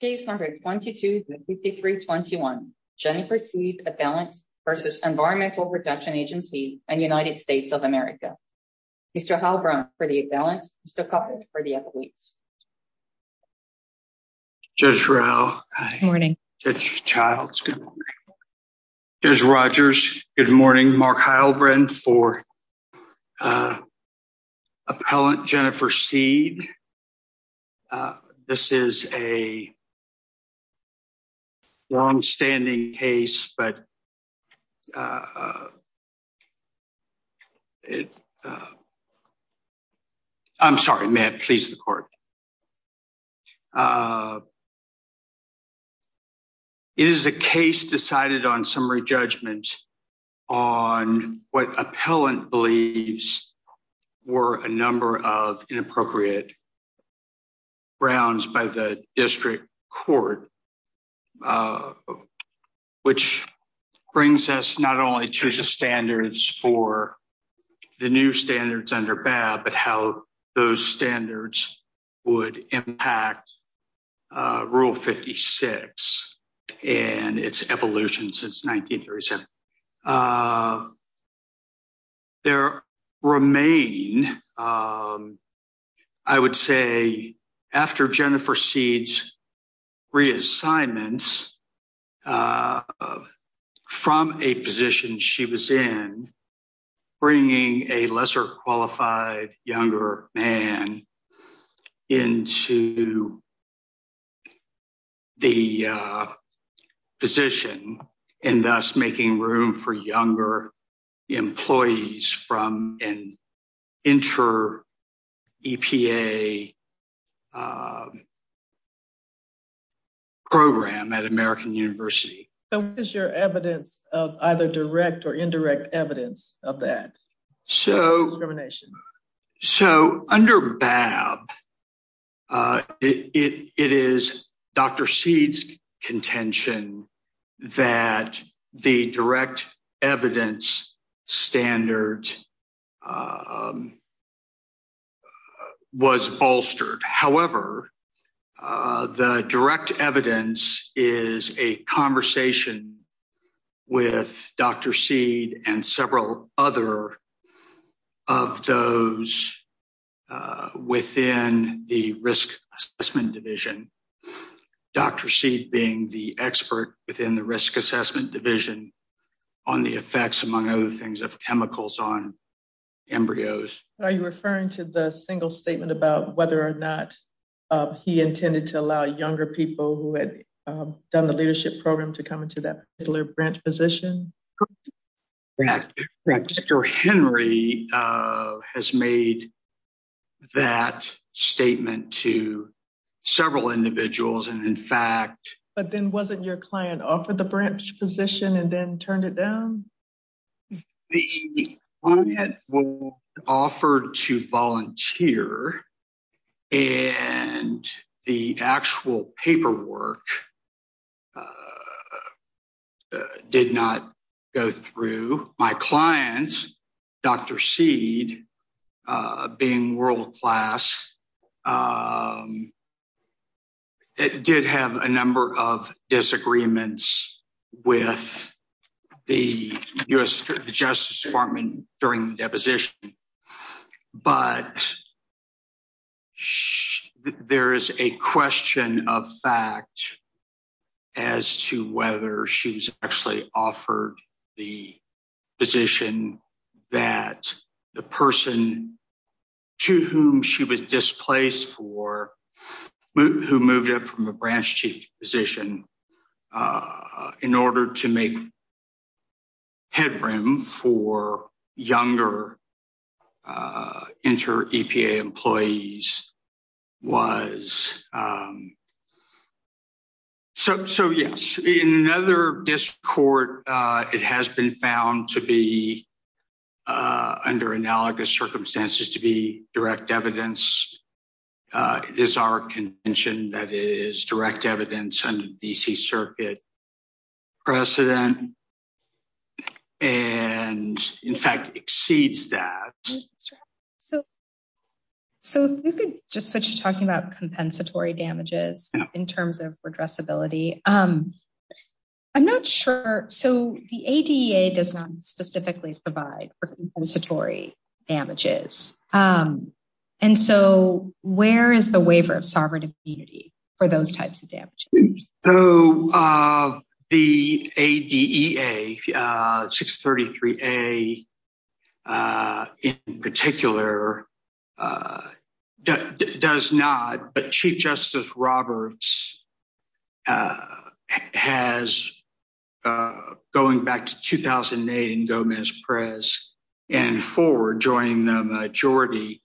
Case number 22-5321, Jennifer Seed appellant versus Environmental Protection Agency and United States of America. Mr. Heilbrunn for the appellants, Mr. Cufford for the appellates. Judge Rowe, Judge Childs, Judge Rogers, good morning. Mark Heilbrunn for appellant Jennifer Seed. This is a longstanding case, but I'm sorry, may it please the court. It is a case decided on summary judgment on what appellant believes were a number of inappropriate grounds by the district court. Which brings us not only to the standards for the new standards under BAB, but how those standards would impact Rule 56 and its evolution since 1937. There remain, I would say, after Jennifer Seed's reassignment from a position she was in, bringing a lesser qualified younger man into the position. And thus making room for younger employees from an inter-EPA program at American University. What is your evidence of either direct or indirect evidence of that discrimination? So under BAB, it is Dr. Seed's contention that the direct evidence standard was bolstered. However, the direct evidence is a conversation with Dr. Seed and several other of those within the risk assessment division. Dr. Seed being the expert within the risk assessment division on the effects, among other things, of chemicals on embryos. Are you referring to the single statement about whether or not he intended to allow younger people who had done the leadership program to come into that particular branch position? Correct. Correct. Dr. Henry has made that statement to several individuals, and in fact... But then wasn't your client offered the branch position and then turned it down? The client was offered to volunteer, and the actual paperwork did not go through. My client, Dr. Seed, being world class, did have a number of disagreements with the U.S. Justice Department during the deposition. But there is a question of fact as to whether she's actually offered the position that the person to whom she was displaced for... ...in order to make headroom for younger inter-EPA employees was. So, yes. In another discord, it has been found to be, under analogous circumstances, to be direct evidence. It is our contention that it is direct evidence under D.C. Circuit precedent and, in fact, exceeds that. So, if you could just switch to talking about compensatory damages in terms of redressability. I'm not sure... So, the ADA does not specifically provide for compensatory damages. And so, where is the waiver of sovereign immunity for those types of damages? So, the ADEA, 633A in particular, does not. But Chief Justice Roberts has, going back to 2008 in Gomez-Perez and forward, joining the majority,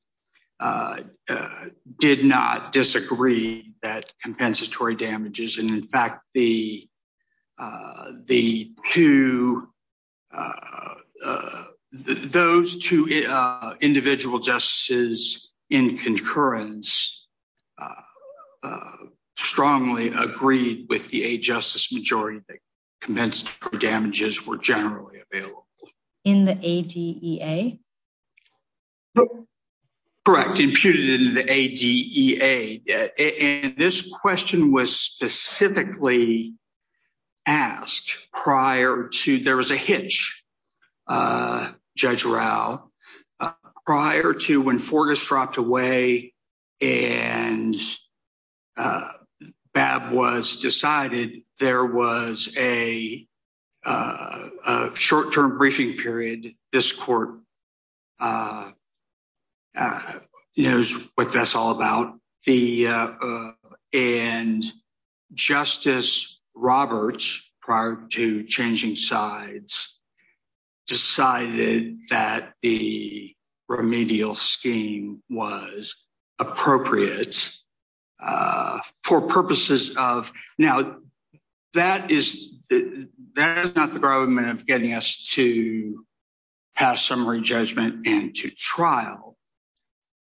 did not disagree that compensatory damages. And, in fact, those two individual justices in concurrence strongly agreed with the Justice majority that compensatory damages were generally available. In the ADEA? Correct. Imputed in the ADEA. And this question was specifically asked prior to... There was a hitch, Judge Rao. Prior to when Forgis dropped away and Babb was decided, there was a short-term briefing period. This court knows what that's all about. And Justice Roberts, prior to changing sides, decided that the remedial scheme was appropriate for purposes of... That is not the problem of getting us to pass summary judgment and to trial.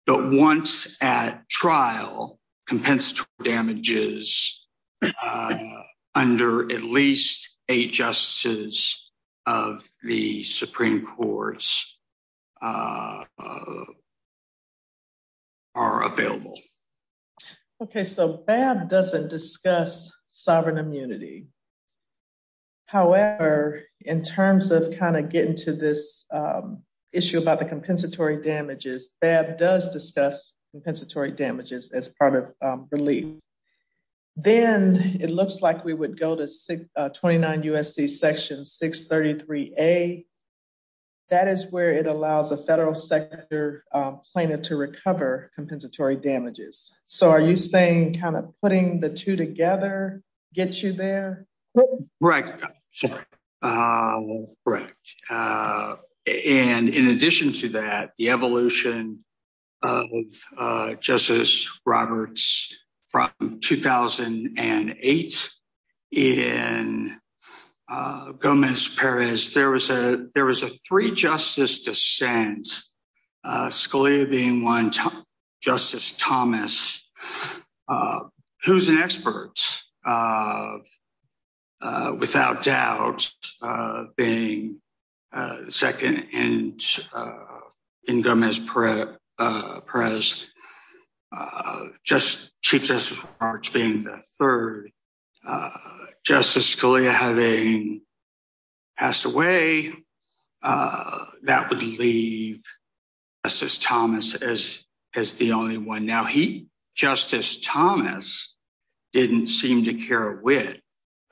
But once at trial, compensatory damages under at least eight justices of the Supreme Courts are available. Okay, so Babb doesn't discuss sovereign immunity. However, in terms of kind of getting to this issue about the compensatory damages, Babb does discuss compensatory damages as part of relief. Then it looks like we would go to 29 U.S.C. Section 633A. That is where it allows a federal sector plaintiff to recover compensatory damages. So are you saying kind of putting the two together gets you there? Right. And in addition to that, the evolution of Justice Roberts from 2008 in Gomez-Perez, there was a three-justice dissent, Scalia being one, Justice Thomas, who's an expert. Justice Roberts, without doubt, being second in Gomez-Perez, Chief Justice Roberts being the third, Justice Scalia having passed away, that would leave Justice Thomas as the only one. Now, Justice Thomas didn't seem to care a whit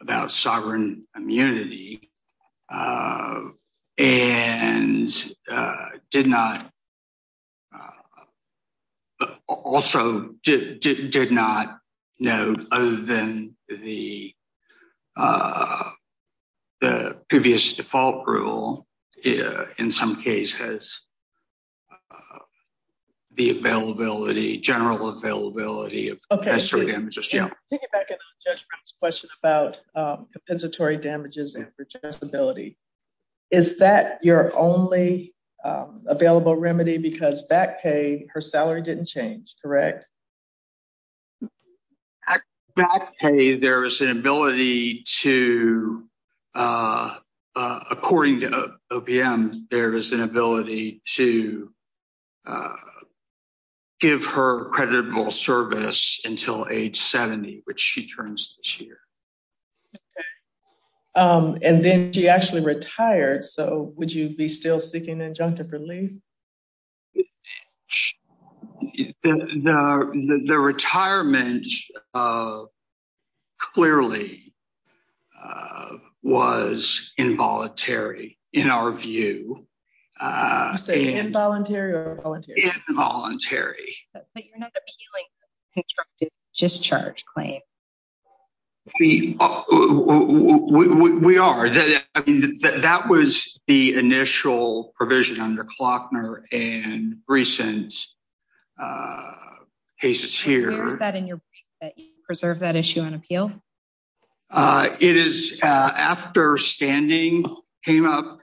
about sovereign immunity and also did not know, other than the previous default rule, in some cases, the availability. General availability of compensatory damages. Okay. Taking back on Judge Brown's question about compensatory damages and rejectability, is that your only available remedy? Because back pay, her salary didn't change, correct? Back pay, there is an ability to, according to OPM, there is an ability to give her creditable service until age 70, which she turns this year. And then she actually retired, so would you be still seeking injunctive relief? The retirement clearly was involuntary, in our view. You say involuntary or voluntary? Involuntary. But you're not appealing constructive discharge claim. We are. That was the initial provision under Klockner and Greeson's cases here. Do you reserve that issue on appeal? It is, after standing came up,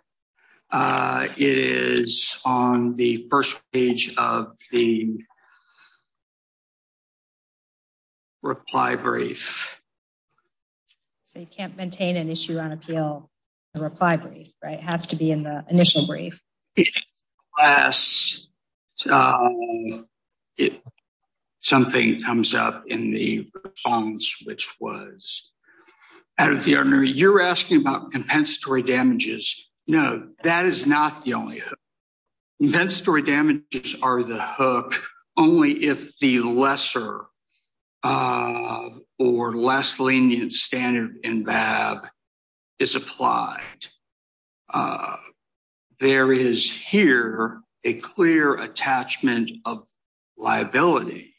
it is on the first page of the reply brief. So you can't maintain an issue on appeal, the reply brief, right? It has to be in the initial brief. Something comes up in the response, which was out of the ordinary. You're asking about compensatory damages. No, that is not the only hook. Compensatory damages are the hook only if the lesser or less lenient standard in BAB is applied. There is here a clear attachment of liability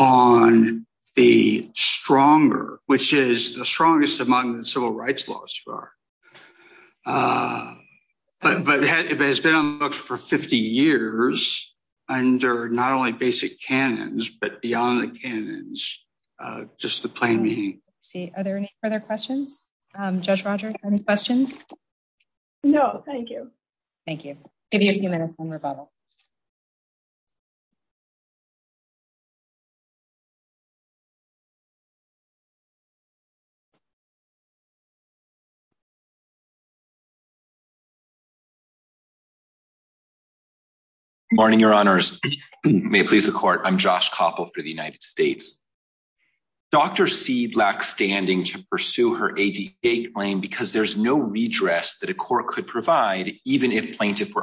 on the stronger, which is the strongest among the civil rights laws. But it has been on the books for 50 years under not only basic canons, but beyond the canons, just the plain meaning. Are there any further questions? Judge Rogers, any questions? No, thank you. Thank you. Give you a few minutes on rebuttal. Morning, Your Honors. May it please the court. I'm Josh Koppel for the United States. I would like to begin by saying that this is not a case where the plaintiff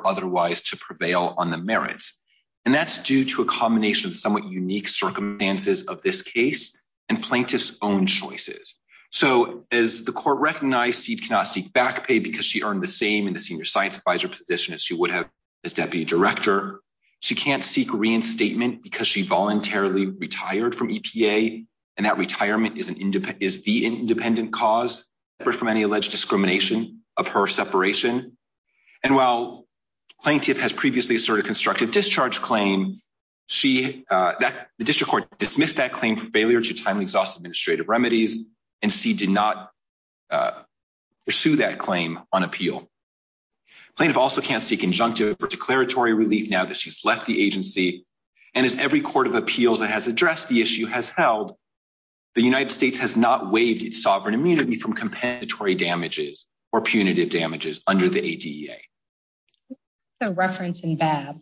can seek back pay because she earned the same in the senior science advisor position as she would have as deputy director. She can't seek reinstatement because she voluntarily retired from EPA. And that retirement is the independent cause, separate from any alleged discrimination of her separation. And while plaintiff has previously asserted constructive discharge claim, the district court dismissed that claim for failure to timely exhaust administrative remedies and did not pursue that claim on appeal. Plaintiff also can't seek injunctive or declaratory relief now that she's left the agency. And as every court of appeals that has addressed the issue has held, the United States has not waived its sovereign immunity from compensatory damages or punitive damages under the ADA. The reference in BAB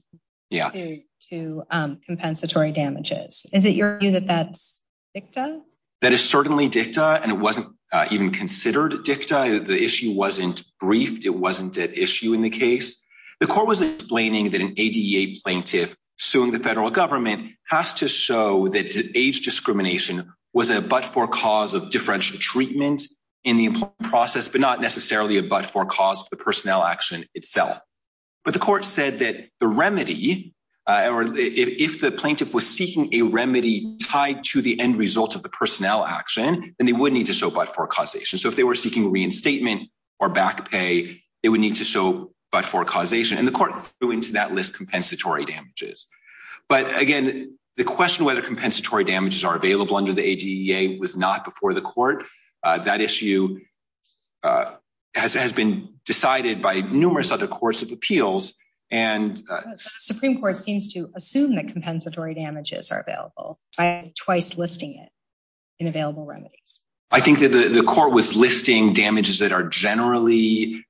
to compensatory damages. Is it your view that that's dicta? That is certainly dicta. And it wasn't even considered dicta. The issue wasn't briefed. It wasn't an issue in the case. The court was explaining that an ADA plaintiff suing the federal government has to show that age discrimination was a but-for cause of differential treatment in the process, but not necessarily a but-for cause of the personnel action itself. But the court said that the remedy or if the plaintiff was seeking a remedy tied to the end result of the personnel action, then they would need to show but-for causation. So if they were seeking reinstatement or back pay, they would need to show but-for causation. And the court threw into that list compensatory damages. But, again, the question whether compensatory damages are available under the ADA was not before the court. That issue has been decided by numerous other courts of appeals. And the Supreme Court seems to assume that compensatory damages are available by twice listing it in available remedies. I think that the court was listing damages that are generally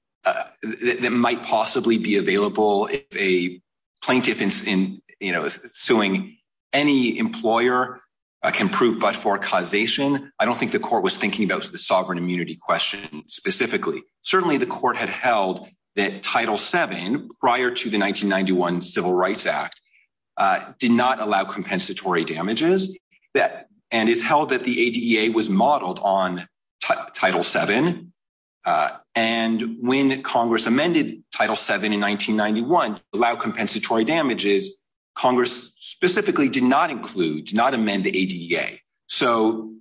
that might possibly be available if a plaintiff is suing any employer can prove but-for causation. I don't think the court was thinking about the sovereign immunity question specifically. Certainly, the court had held that Title VII prior to the 1991 Civil Rights Act did not allow compensatory damages. And it's held that the ADA was modeled on Title VII. And when Congress amended Title VII in 1991 to allow compensatory damages, Congress specifically did not include, did not amend the ADA. So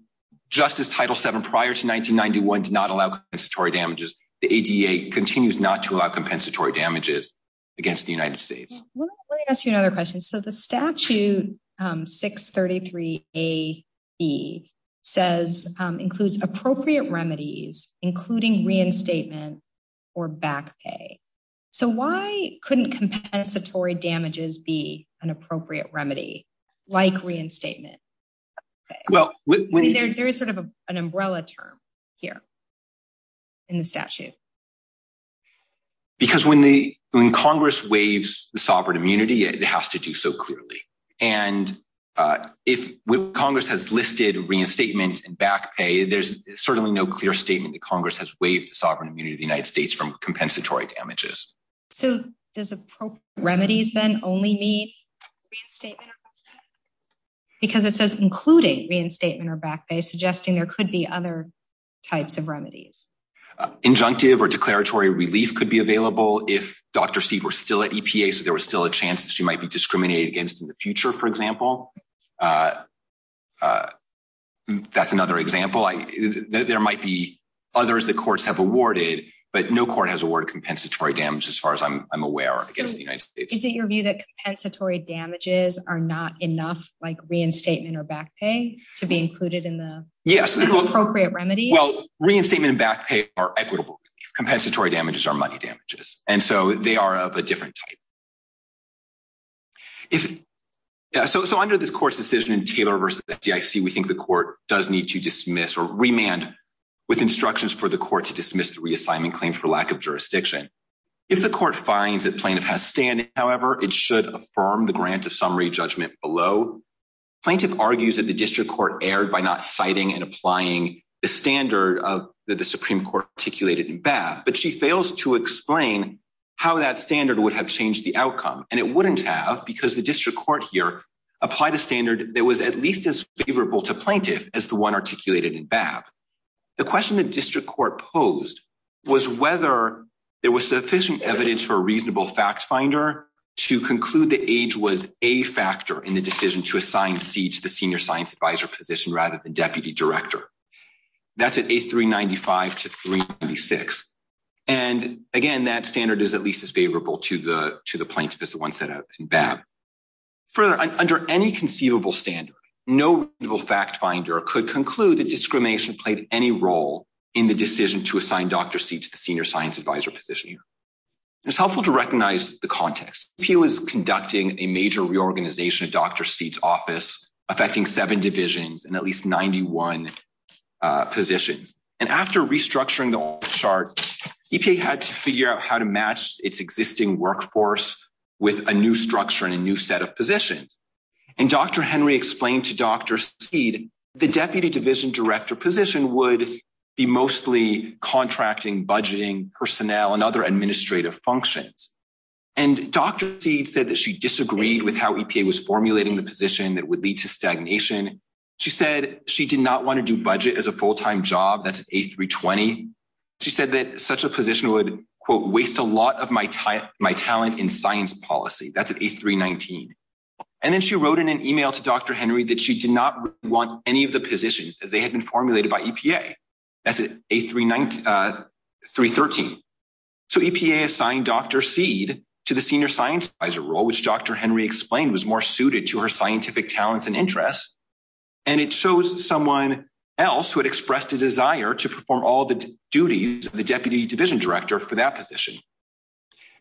just as Title VII prior to 1991 did not allow compensatory damages, the ADA continues not to allow compensatory damages against the United States. Let me ask you another question. So the statute 633AE says includes appropriate remedies including reinstatement or back pay. So why couldn't compensatory damages be an appropriate remedy like reinstatement? There is sort of an umbrella term here in the statute. Because when Congress waives the sovereign immunity, it has to do so clearly. And if Congress has listed reinstatement and back pay, there's certainly no clear statement that Congress has waived the sovereign immunity of the United States from compensatory damages. So does appropriate remedies then only mean reinstatement or back pay? Because it says including reinstatement or back pay, suggesting there could be other types of remedies. Injunctive or declaratory relief could be available if Dr. Seed were still at EPA, so there was still a chance that she might be discriminated against in the future, for example. That's another example. There might be others that courts have awarded, but no court has awarded compensatory damage, as far as I'm aware, against the United States. So is it your view that compensatory damages are not enough, like reinstatement or back pay, to be included in the appropriate remedy? Well, reinstatement and back pay are equitable. Compensatory damages are money damages, and so they are of a different type. So under this court's decision in Taylor v. DIC, we think the court does need to dismiss or remand with instructions for the court to dismiss the reassignment claim for lack of jurisdiction. If the court finds that plaintiff has standing, however, it should affirm the grant of summary judgment below. Plaintiff argues that the district court erred by not citing and applying the standard that the Supreme Court articulated in BAP, but she fails to explain how that standard would have changed the outcome. And it wouldn't have because the district court here applied a standard that was at least as favorable to plaintiff as the one articulated in BAP. The question the district court posed was whether there was sufficient evidence for a reasonable fact finder to conclude that age was a factor in the decision to assign C to the senior science advisor position rather than deputy director. That's at 8395 to 396. And, again, that standard is at least as favorable to the plaintiff as the one set out in BAP. Further, under any conceivable standard, no reasonable fact finder could conclude that discrimination played any role in the decision to assign Dr. C to the senior science advisor position. It's helpful to recognize the context. EPA was conducting a major reorganization of Dr. C's office, affecting seven divisions and at least 91 positions. And after restructuring the office chart, EPA had to figure out how to match its existing workforce with a new structure and a new set of positions. And Dr. Henry explained to Dr. C that the deputy division director position would be mostly contracting, budgeting, personnel, and other administrative functions. And Dr. C said that she disagreed with how EPA was formulating the position that would lead to stagnation. She said she did not want to do budget as a full-time job. That's at A320. She said that such a position would, quote, waste a lot of my talent in science policy. That's at A319. And then she wrote in an email to Dr. Henry that she did not want any of the positions as they had been formulated by EPA. That's at A313. So EPA assigned Dr. C to the senior science advisor role, which Dr. Henry explained was more suited to her scientific talents and interests. And it shows someone else who had expressed a desire to perform all the duties of the deputy division director for that position.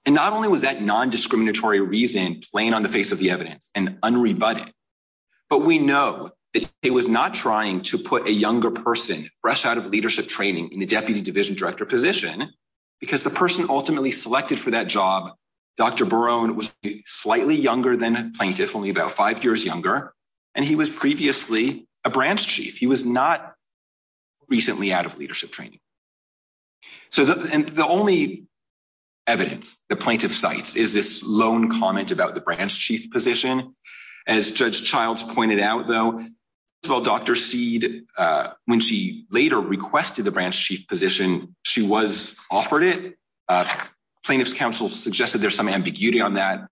And not only was that nondiscriminatory reason plain on the face of the evidence and unrebutted, but we know that EPA was not trying to put a younger person fresh out of leadership training in the deputy division director position because the person ultimately selected for that job, Dr. Barone, was slightly younger than a plaintiff, only about five years younger, and he was previously a branch chief. He was not recently out of leadership training. So the only evidence the plaintiff cites is this lone comment about the branch chief position. As Judge Childs pointed out, though, Dr. Seed, when she later requested the branch chief position, she was offered it. Plaintiff's counsel suggested there's some ambiguity on that.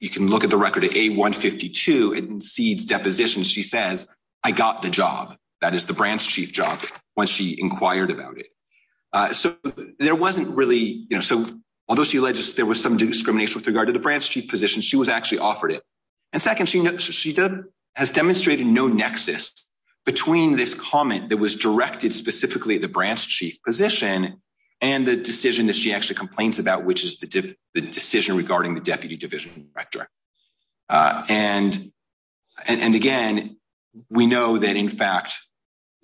You can look at the record at A152 in Seed's deposition. She says, I got the job, that is the branch chief job, when she inquired about it. So there wasn't really, you know, so although she alleged there was some discrimination with regard to the branch chief position, she was actually offered it. And second, she has demonstrated no nexus between this comment that was directed specifically at the branch chief position and the decision that she actually complains about, which is the decision regarding the deputy division director. And again, we know that, in fact,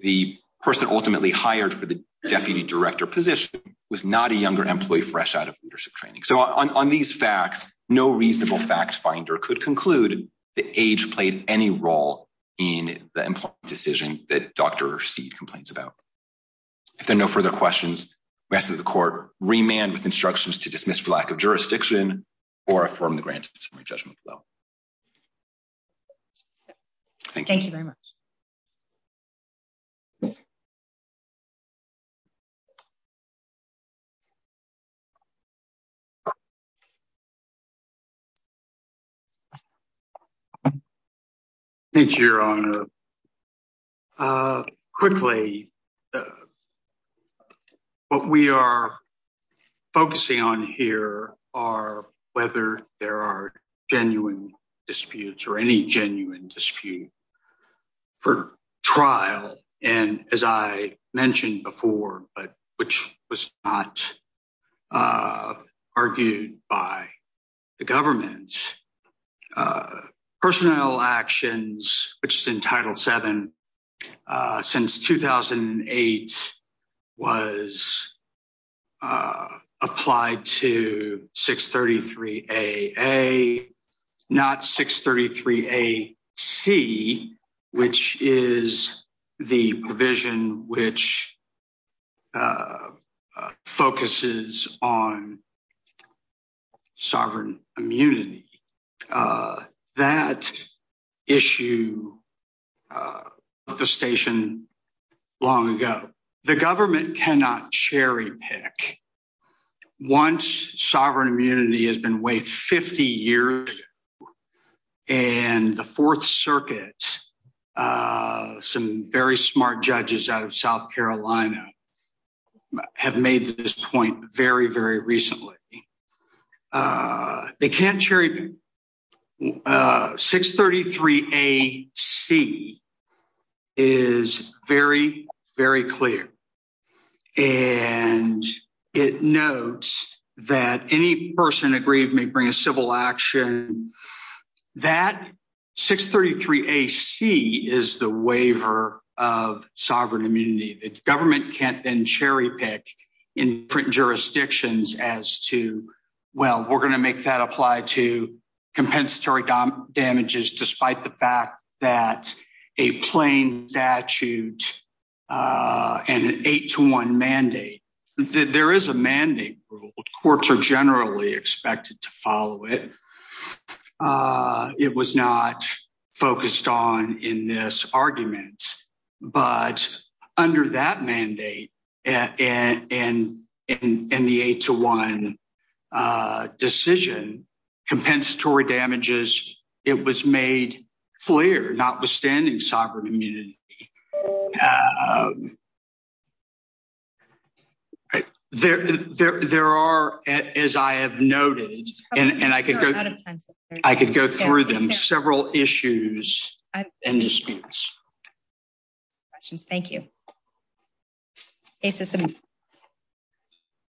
the person ultimately hired for the deputy director position was not a younger employee fresh out of leadership training. So on these facts, no reasonable fact finder could conclude that age played any role in the decision that Dr. Seed complains about. If there are no further questions, we ask that the court remand with instructions to dismiss for lack of jurisdiction or affirm the granted summary judgment. Thank you very much. Thank you, Your Honor. Quickly, what we are focusing on here are whether there are genuine disputes or any genuine dispute for trial. And as I mentioned before, which was not argued by the government, personnel actions, which is in Title VII, since 2008, was applied to 633AA, not 633AC, which is the provision which focuses on sovereign immunity. That issue left the station long ago. The government cannot cherry pick once sovereign immunity has been waived 50 years and the Fourth Circuit, some very smart judges out of South Carolina, have made this point very, very recently. They can't cherry pick. 633AC is very, very clear. And it notes that any person aggrieved may bring a civil action. And that 633AC is the waiver of sovereign immunity. The government can't then cherry pick in jurisdictions as to, well, we're going to make that apply to compensatory damages, despite the fact that a plain statute and an 8-1 mandate. There is a mandate. Courts are generally expected to follow it. It was not focused on in this argument. But under that mandate and the 8-1 decision, compensatory damages, it was made clear, notwithstanding sovereign immunity. There are, as I have noted, and I could go through them, several issues and disputes. Questions. Thank you.